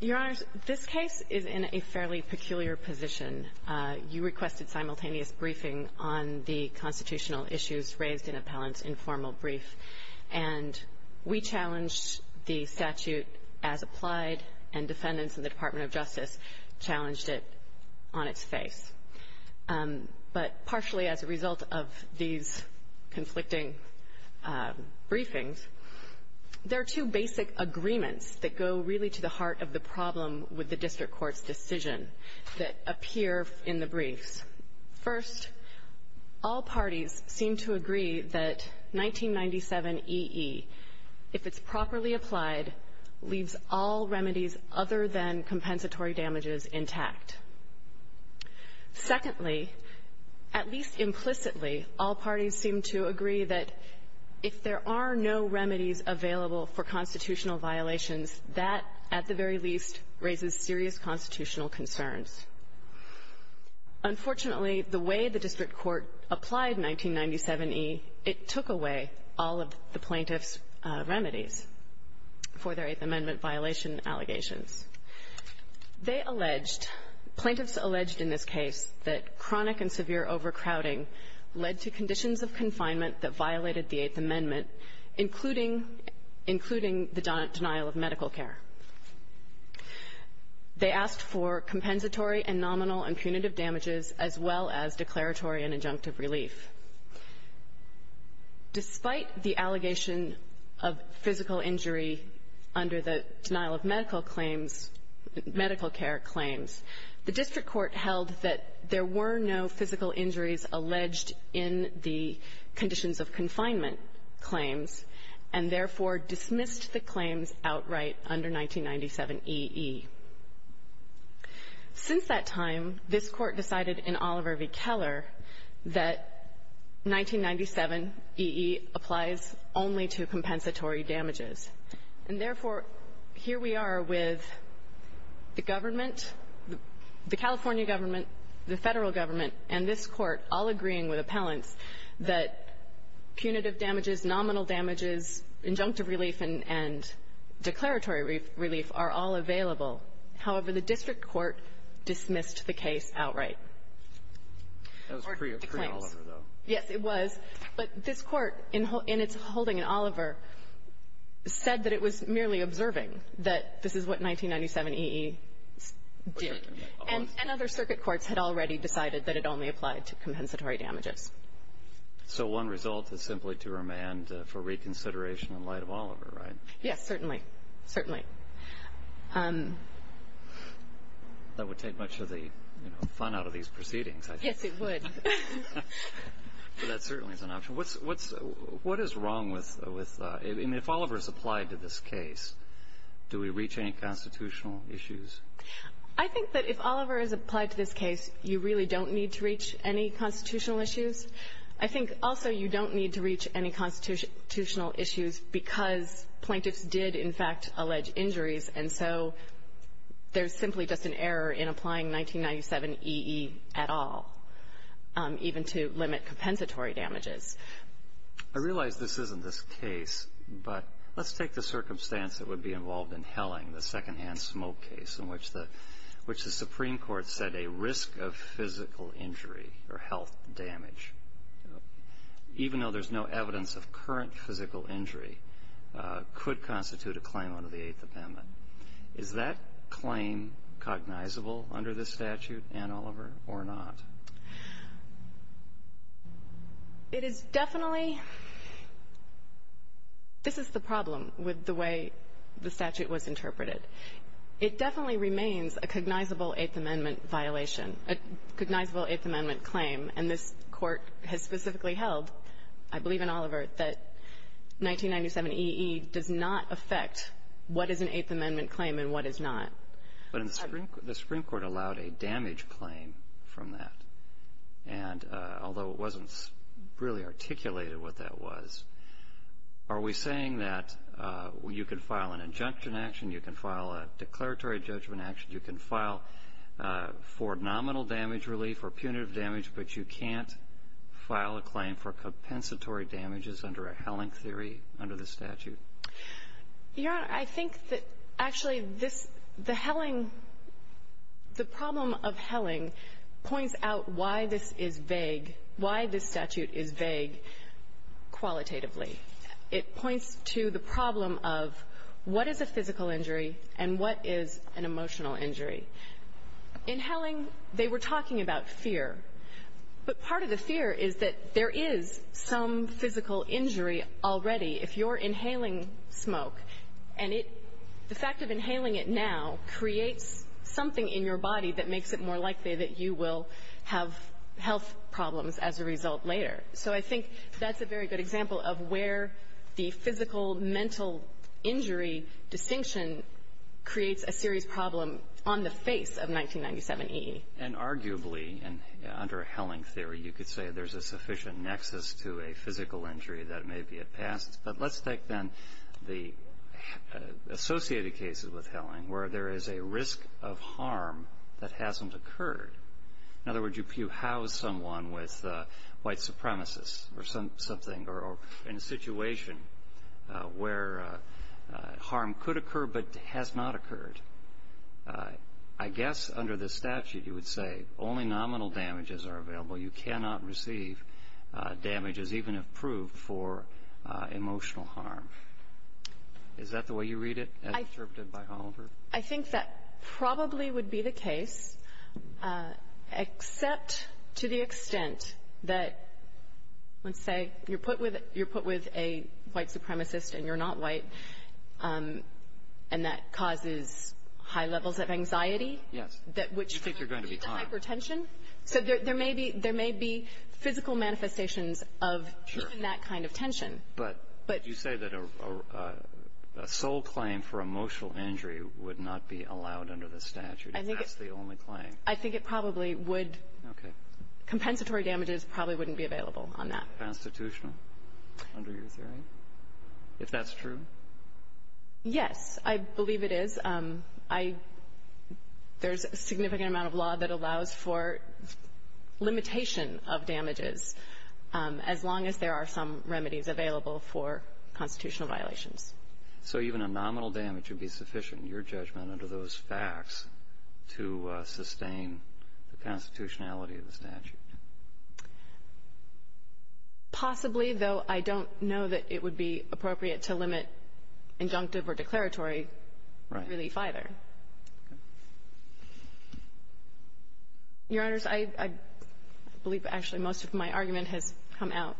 Your Honor, this case is in a fairly peculiar position. You requested simultaneous briefing on the constitutional issues raised in Appellant's informal brief. We challenged the statute as applied, and defendants in the Department of Justice challenged it on its face. But partially as a result of these conflicting briefings, there are two basic agreements that go really to the heart of the problem with the District Court's decision that appear in the briefs. First, all parties seem to agree that 1997 EE, if it's properly applied, leaves all remedies other than compensatory damages intact. Secondly, at least implicitly, all parties seem to agree that if there are no remedies available for constitutional violations, that, at the very least, raises serious constitutional concerns. Unfortunately, the way the District Court applied 1997 EE, it took away all of the plaintiffs' remedies for their Eighth Amendment violation allegations. They alleged, plaintiffs alleged in this case, that chronic and severe overcrowding led to conditions of confinement that violated the Eighth Amendment, including the denial of medical care. They asked for compensatory and nominal and punitive damages, as well as declaratory and injunctive relief. Despite the allegation of physical injury under the denial of medical claims — medical care claims, the District Court held that there were no physical injuries alleged in the conditions of confinement claims, and therefore dismissed the claims outright under 1997 EE. Since that time, this Court decided in Oliver v. Keller that 1997 EE applies only to compensatory damages. And therefore, here we are with the government — the California government, the Federal government, and this Court all agreeing with appellants that punitive damages, nominal damages, injunctive relief, and declaratory relief are all available. However, the District Court dismissed the case outright. Alito. That was pre-Oliver, though. Yes, it was. But this Court, in its holding in Oliver, said that it was merely observing that this is what 1997 EE did, and other circuit courts had already decided that it only applied to compensatory damages. So one result is simply to remand for reconsideration in light of Oliver, right? Yes, certainly. Certainly. That would take much of the fun out of these proceedings, I think. Yes, it would. But that certainly is an option. What's — what is wrong with — I mean, if Oliver is applied to this case, do we reach any constitutional issues? I think that if Oliver is applied to this case, you really don't need to reach any constitutional issues. I think also you don't need to reach any constitutional issues because plaintiffs did, in fact, allege injuries, and so there's simply just an error in applying 1997 EE at all, even to limit compensatory damages. I realize this isn't this case, but let's take the circumstance that would be involved in Helling, the secondhand smoke case, in which the Supreme Court said a risk of physical injury or health damage, even though there's no evidence of current physical injury, could constitute a claim under the Eighth Amendment. Is that claim cognizable under this statute, Anne Oliver, or not? It is definitely — this is the problem with the way the statute was interpreted. It definitely remains a cognizable Eighth Amendment violation, a cognizable Eighth Amendment claim, and this Court has specifically held, I believe in Oliver, that 1997 EE does not affect what is an Eighth Amendment claim and what is not. But the Supreme Court allowed a damage claim from that, and although it wasn't really articulated what that was, are we saying that you can file an injunction action, you can file a declaratory judgment action, you can file for nominal damage relief or punitive damage, but you can't file a claim for compensatory damages under a Helling theory, under the statute? Your Honor, I think that actually this — the Helling — the problem of Helling points out why this is vague, why this statute is vague qualitatively. It points to the problem of what is a physical injury and what is an emotional injury. In Helling, they were talking about fear, but part of the fear is that there is some physical injury already if you're inhaling smoke, and it — the fact of inhaling it now creates something in your body that makes it more likely that you will have health problems as a result later. So I think that's a very good example of where the physical, And arguably, under a Helling theory, you could say there's a sufficient nexus to a physical injury that maybe it passes, but let's take, then, the associated cases with Helling where there is a risk of harm that hasn't occurred. In other words, if you house someone with white supremacists or something, or in a situation where harm could occur but has not occurred, I guess under the statute you would say only nominal damages are available. You cannot receive damages even if proved for emotional harm. Is that the way you read it, as interpreted by Hollandburg? I think that probably would be the case, except to the extent that, let's say, you're put with a white supremacist and you're not white, and that causes high levels of anxiety, which then leads to hypertension. So there may be physical manifestations of that kind of tension. But you say that a sole claim for emotional injury would not be allowed under the statute. That's the only claim. I think it probably would. Okay. Compensatory damages probably wouldn't be available on that. Constitutional, under your theory, if that's true? Yes. I believe it is. I — there's a significant amount of law that allows for limitation of damages as long as there are some remedies available for constitutional violations. So even a nominal damage would be sufficient, in your judgment, under those facts, to sustain the constitutionality of the statute? Possibly, though I don't know that it would be appropriate to limit injunctive or declaratory relief either. Right. Your Honors, I believe actually most of my argument has come out.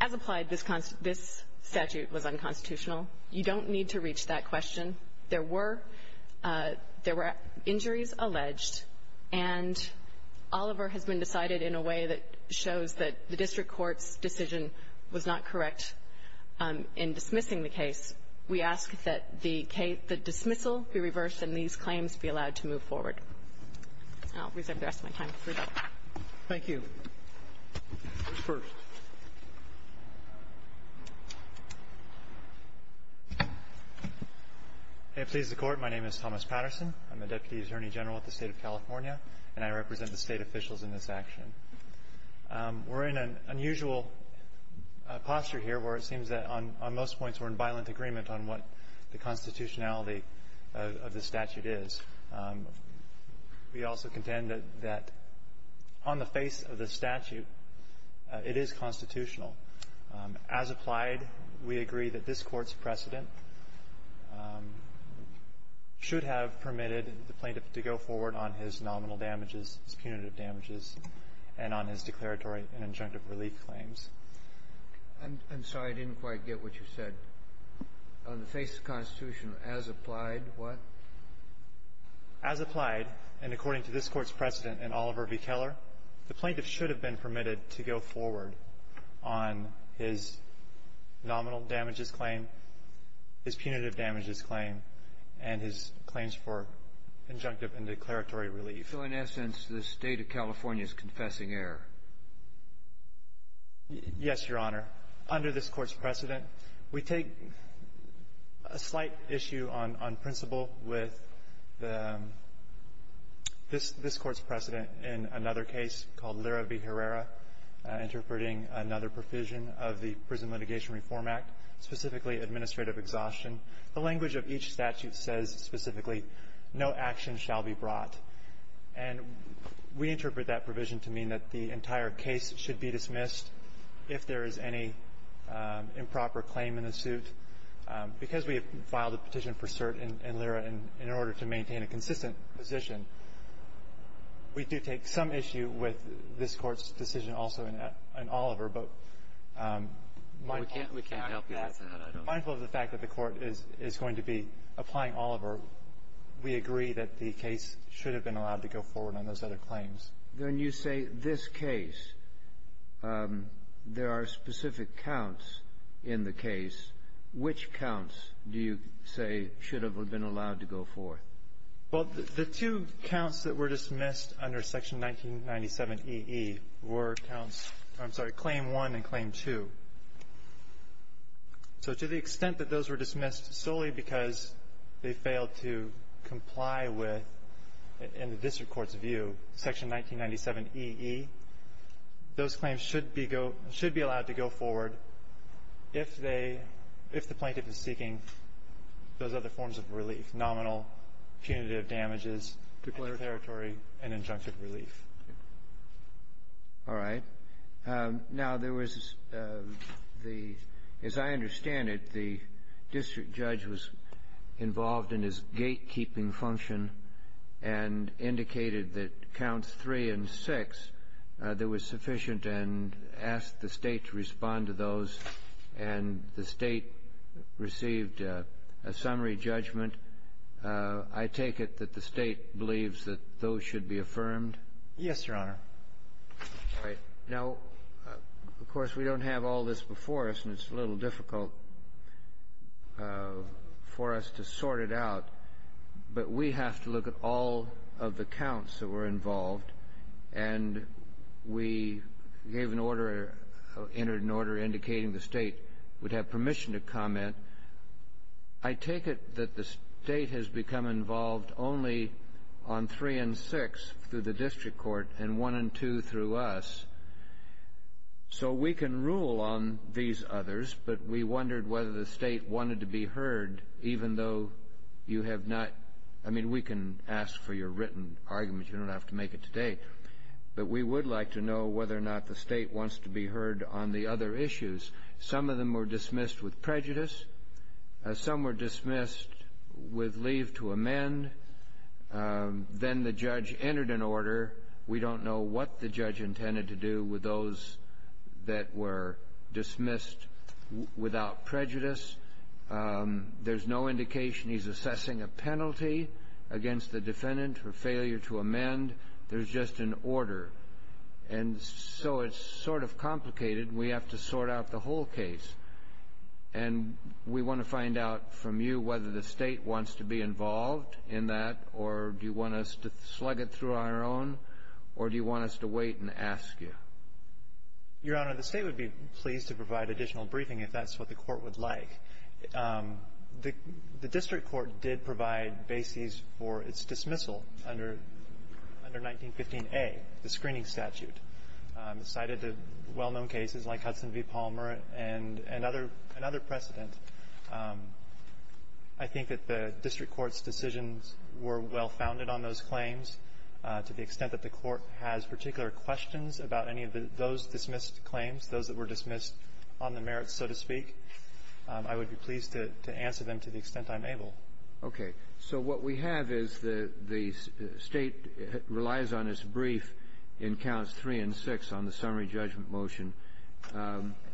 As applied, this statute was unconstitutional. You don't need to reach that question. There were injuries alleged, and Oliver has been decided in a way that shows that the district court's decision was not correct in dismissing the case. We ask that the dismissal be reversed and these claims be allowed to move forward. I'll reserve the rest of my time for that. Thank you. First. May it please the Court, my name is Thomas Patterson. I'm the Deputy Attorney General at the State of California, and I represent the State officials in this action. We're in an unusual posture here where it seems that on most points we're in violent agreement on what the constitutionality of the statute is. We also contend that on the face of the statute, it is constitutional. As applied, we agree that this Court's precedent should have permitted the plaintiff to go forward on his nominal damages, his punitive damages, and on his declaratory and injunctive relief claims. I'm sorry. I didn't quite get what you said. On the face of the Constitution, as applied, what? As applied, and according to this Court's precedent and Oliver v. Keller, the plaintiff should have been permitted to go forward on his nominal damages claim, his punitive damages claim, and his claims for injunctive and declaratory relief. So in essence, the State of California is confessing error. Yes, Your Honor. Under this Court's precedent, we take a slight issue on principle with this Court's precedent in another case called Lira v. Herrera, interpreting another provision of the Prison Litigation Reform Act, specifically administrative exhaustion. The language of each statute says specifically, no action shall be brought. And we interpret that provision to mean that the entire case should be dismissed if there is any improper claim in the suit. Because we have filed a petition for cert in Lira in order to maintain a consistent position, we do take some issue with this Court's decision also in Oliver. But mindful of the fact that the Court is going to be applying Oliver, we agree that the case should have been allowed to go forward on those other claims. Then you say this case, there are specific counts in the case. Which counts do you say should have been allowed to go forth? Well, the two counts that were dismissed under Section 1997ee were counts of, I'm sorry, Claim 1 and Claim 2. So to the extent that those were dismissed solely because they failed to comply with, in the district court's view, Section 1997ee, those claims should be allowed to go forward if they – if the plaintiff is seeking those other forms of relief, nominal, punitive damages, declaratory, and injunctive relief. All right. Now, there was the – as I understand it, the district judge was involved in his gatekeeping function and indicated that counts 3 and 6, there was sufficient and asked the State to respond to those, and the State received a summary judgment. I take it that the State believes that those should be affirmed? Yes, Your Honor. All right. Now, of course, we don't have all this before us, and it's a little difficult for us to sort it out, but we have to look at all of the counts that were involved, and we gave an order – entered an order indicating the State would have permission to comment. I take it that the State has become involved only on 3 and 6 through the district court and 1 and 2 through us. So we can rule on these others, but we wondered whether the State wanted to be heard even though you have not – I mean, we can ask for your written argument. You don't have to make it today. But we would like to know whether or not the State wants to be heard on the other issues. Some of them were dismissed with prejudice. Some were dismissed with leave to amend. Then the judge entered an order. We don't know what the judge intended to do with those that were dismissed without prejudice. There's no indication he's assessing a penalty against the defendant for failure to amend. There's just an order. And so it's sort of complicated, and we have to sort out the whole case. And we want to find out from you whether the State wants to be involved in that, or do you want us to slug it through our own, or do you want us to wait and ask you? Your Honor, the State would be pleased to provide additional briefing if that's what the court would like. The district court did provide bases for its dismissal under 1915A, the screening statute. Cited the well-known cases like Hudson v. Palmer and another precedent. I think that the district court's decisions were well-founded on those claims. To the extent that the court has particular questions about any of those dismissed claims, those that were dismissed on the merits, so to speak, I would be pleased to answer them to the extent I'm able. Okay. So what we have is the State relies on its brief in Counts 3 and 6 on the summary judgment motion.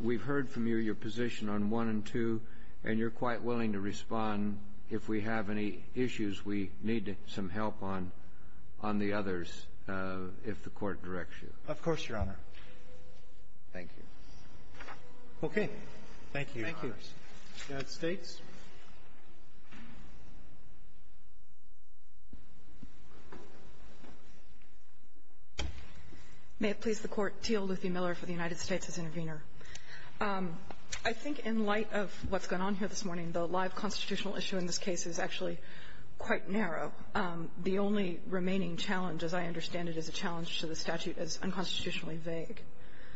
We've heard from you your position on 1 and 2, and you're quite willing to respond. If we have any issues, we need some help on the others if the Court directs you. Of course, Your Honor. Thank you. Okay. Thank you. United States. May it please the Court. Teal Luthy Miller for the United States as intervener. I think in light of what's going on here this morning, the live constitutional issue in this case is actually quite narrow. The only remaining challenge, as I understand it, is a challenge to the statute as unconstitutionally vague.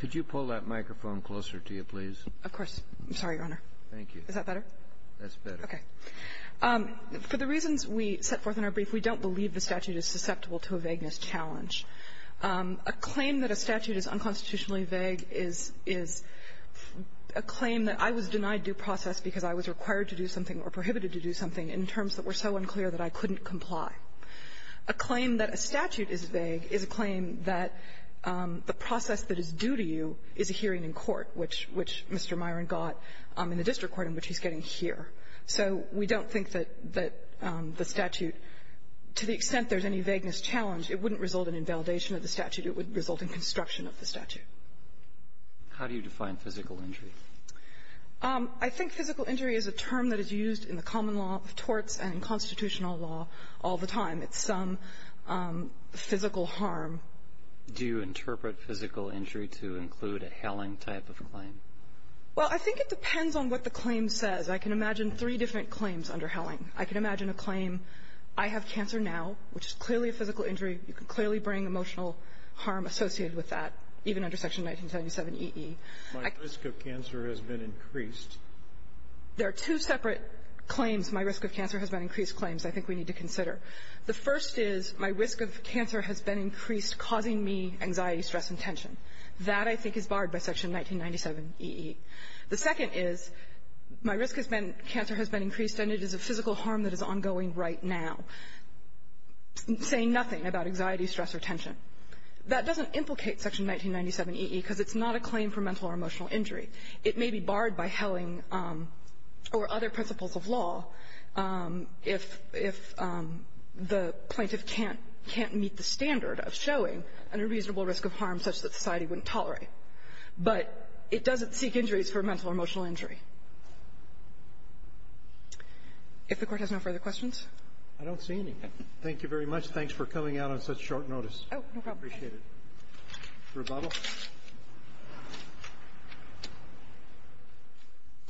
Could you pull that microphone closer to you, please? Of course. I'm sorry, Your Honor. Thank you. Is that better? That's better. Okay. For the reasons we set forth in our brief, we don't believe the statute is susceptible to a vagueness challenge. A claim that a statute is unconstitutionally vague is a claim that I was denied due process because I was required to do something or prohibited to do something in terms that were so unclear that I couldn't comply. A claim that a statute is vague is a claim that the process that is due to you is a hearing in court, which Mr. Myron got in the district court, in which he's getting here. So we don't think that the statute, to the extent there's any vagueness challenge, it wouldn't result in invalidation of the statute. It would result in construction of the statute. How do you define physical injury? I think physical injury is a term that is used in the common law of torts and in constitutional law all the time. It's some physical harm. Do you interpret physical injury to include a helling type of claim? Well, I think it depends on what the claim says. I can imagine three different claims under helling. I can imagine a claim, I have cancer now, which is clearly a physical injury. You can clearly bring emotional harm associated with that, even under Section 1977eE. My risk of cancer has been increased. There are two separate claims, my risk of cancer has been increased claims, I think we need to consider. The first is, my risk of cancer has been increased, causing me anxiety, stress, and tension. That, I think, is barred by Section 1997eE. The second is, my risk of cancer has been increased, and it is a physical harm that is ongoing right now, saying nothing about anxiety, stress, or tension. That doesn't implicate Section 1997eE, because it's not a claim for mental or emotional injury. It may be barred by helling or other principles of law if the plaintiff can't meet the standard of showing an unreasonable risk of harm such that society wouldn't tolerate. But it doesn't seek injuries for mental or emotional injury. If the Court has no further questions. I don't see any. Thank you very much. Thanks for coming out on such short notice. Oh, no problem. I appreciate it. Rebuttal?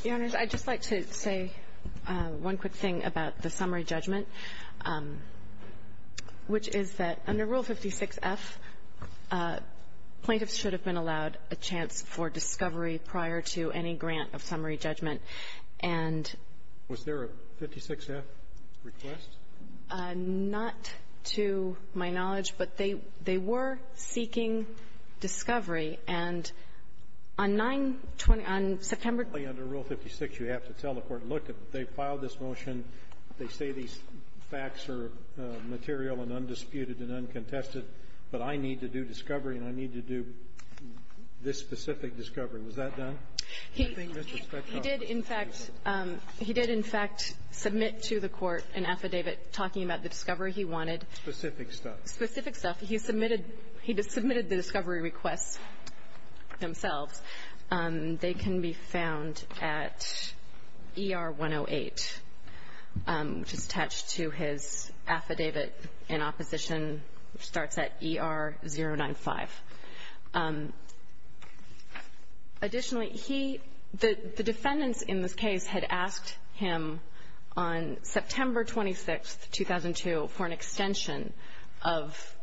Your Honors, I'd just like to say one quick thing about the summary judgment, which is that under Rule 56F, plaintiffs should have been allowed a chance for discovery prior to any grant of summary judgment, and was there a 56F request? Not to my knowledge, but they were seeking discovery. And on 920 — on September — Under Rule 56, you have to tell the Court, look, they filed this motion. They say these facts are material and undisputed and uncontested, but I need to do discovery, and I need to do this specific discovery. Was that done? He did, in fact — he did, in fact, submit to the Court an affidavit talking about the discovery he wanted. Specific stuff. Specific stuff. He submitted — he submitted the discovery requests themselves. They can be found at ER 108, which is attached to his affidavit in opposition, which starts at ER 095. Additionally, he — the defendants in this case had asked him on September 26, 2002, for an extension of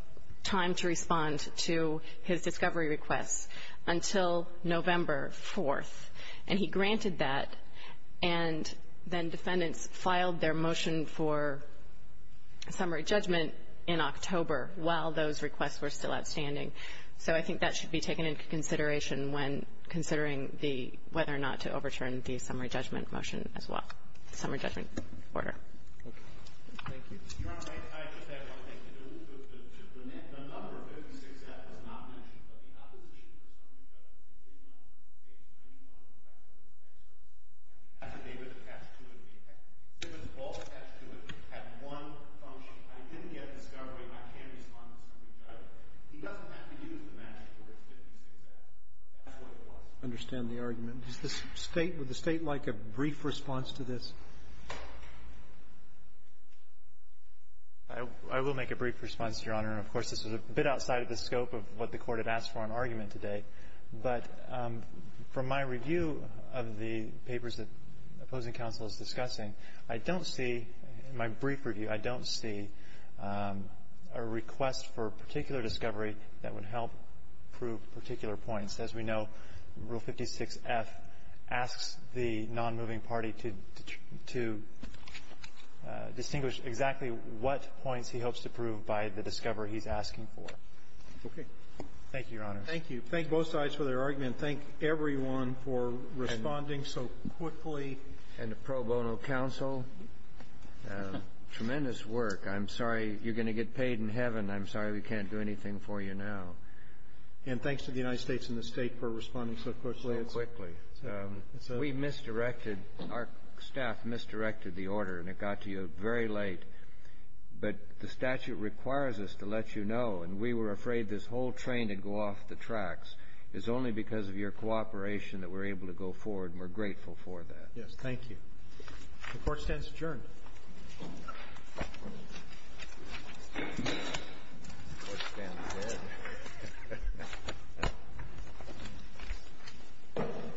time to respond to his discovery requests until November 4th, and he granted that, and then defendants filed their motion for summary judgment in October while those requests were still outstanding. So I think that should be taken into consideration when considering the — whether or not to overturn the summary judgment motion as well, the summary judgment order. Thank you. Thank you. Your Honor, I just have one thing to do, but to — the number 56F was not mentioned, but the opposition for summary judgment did not indicate that he wanted to back up the affidavit attached to it. The affidavit was both attached to it. It had one function. I didn't get a discovery, and I can't respond to the summary judgment. But he doesn't have to use the magic word, 56F. That's what it was. I understand the argument. Does the State — would the State like a brief response to this? I will make a brief response, Your Honor, and, of course, this is a bit outside of the scope of what the Court had asked for in argument today. But from my review of the papers that opposing counsel is discussing, I don't see, in my brief review, I don't see a request for particular discovery that would help prove particular points. As we know, Rule 56F asks the nonmoving party to distinguish exactly what points he hopes to prove by the discovery he's asking for. Okay. Thank you, Your Honor. Thank you. Thank both sides for their argument. Thank everyone for responding so quickly. And to pro bono counsel, tremendous work. I'm sorry you're going to get paid in heaven. I'm sorry we can't do anything for you now. And thanks to the United States and the State for responding so quickly. So quickly. We misdirected — our staff misdirected the order, and it got to you very late. But the statute requires us to let you know, and we were afraid this whole train would go off the tracks. It's only because of your cooperation that we're able to go forward, and we're The court stands adjourned.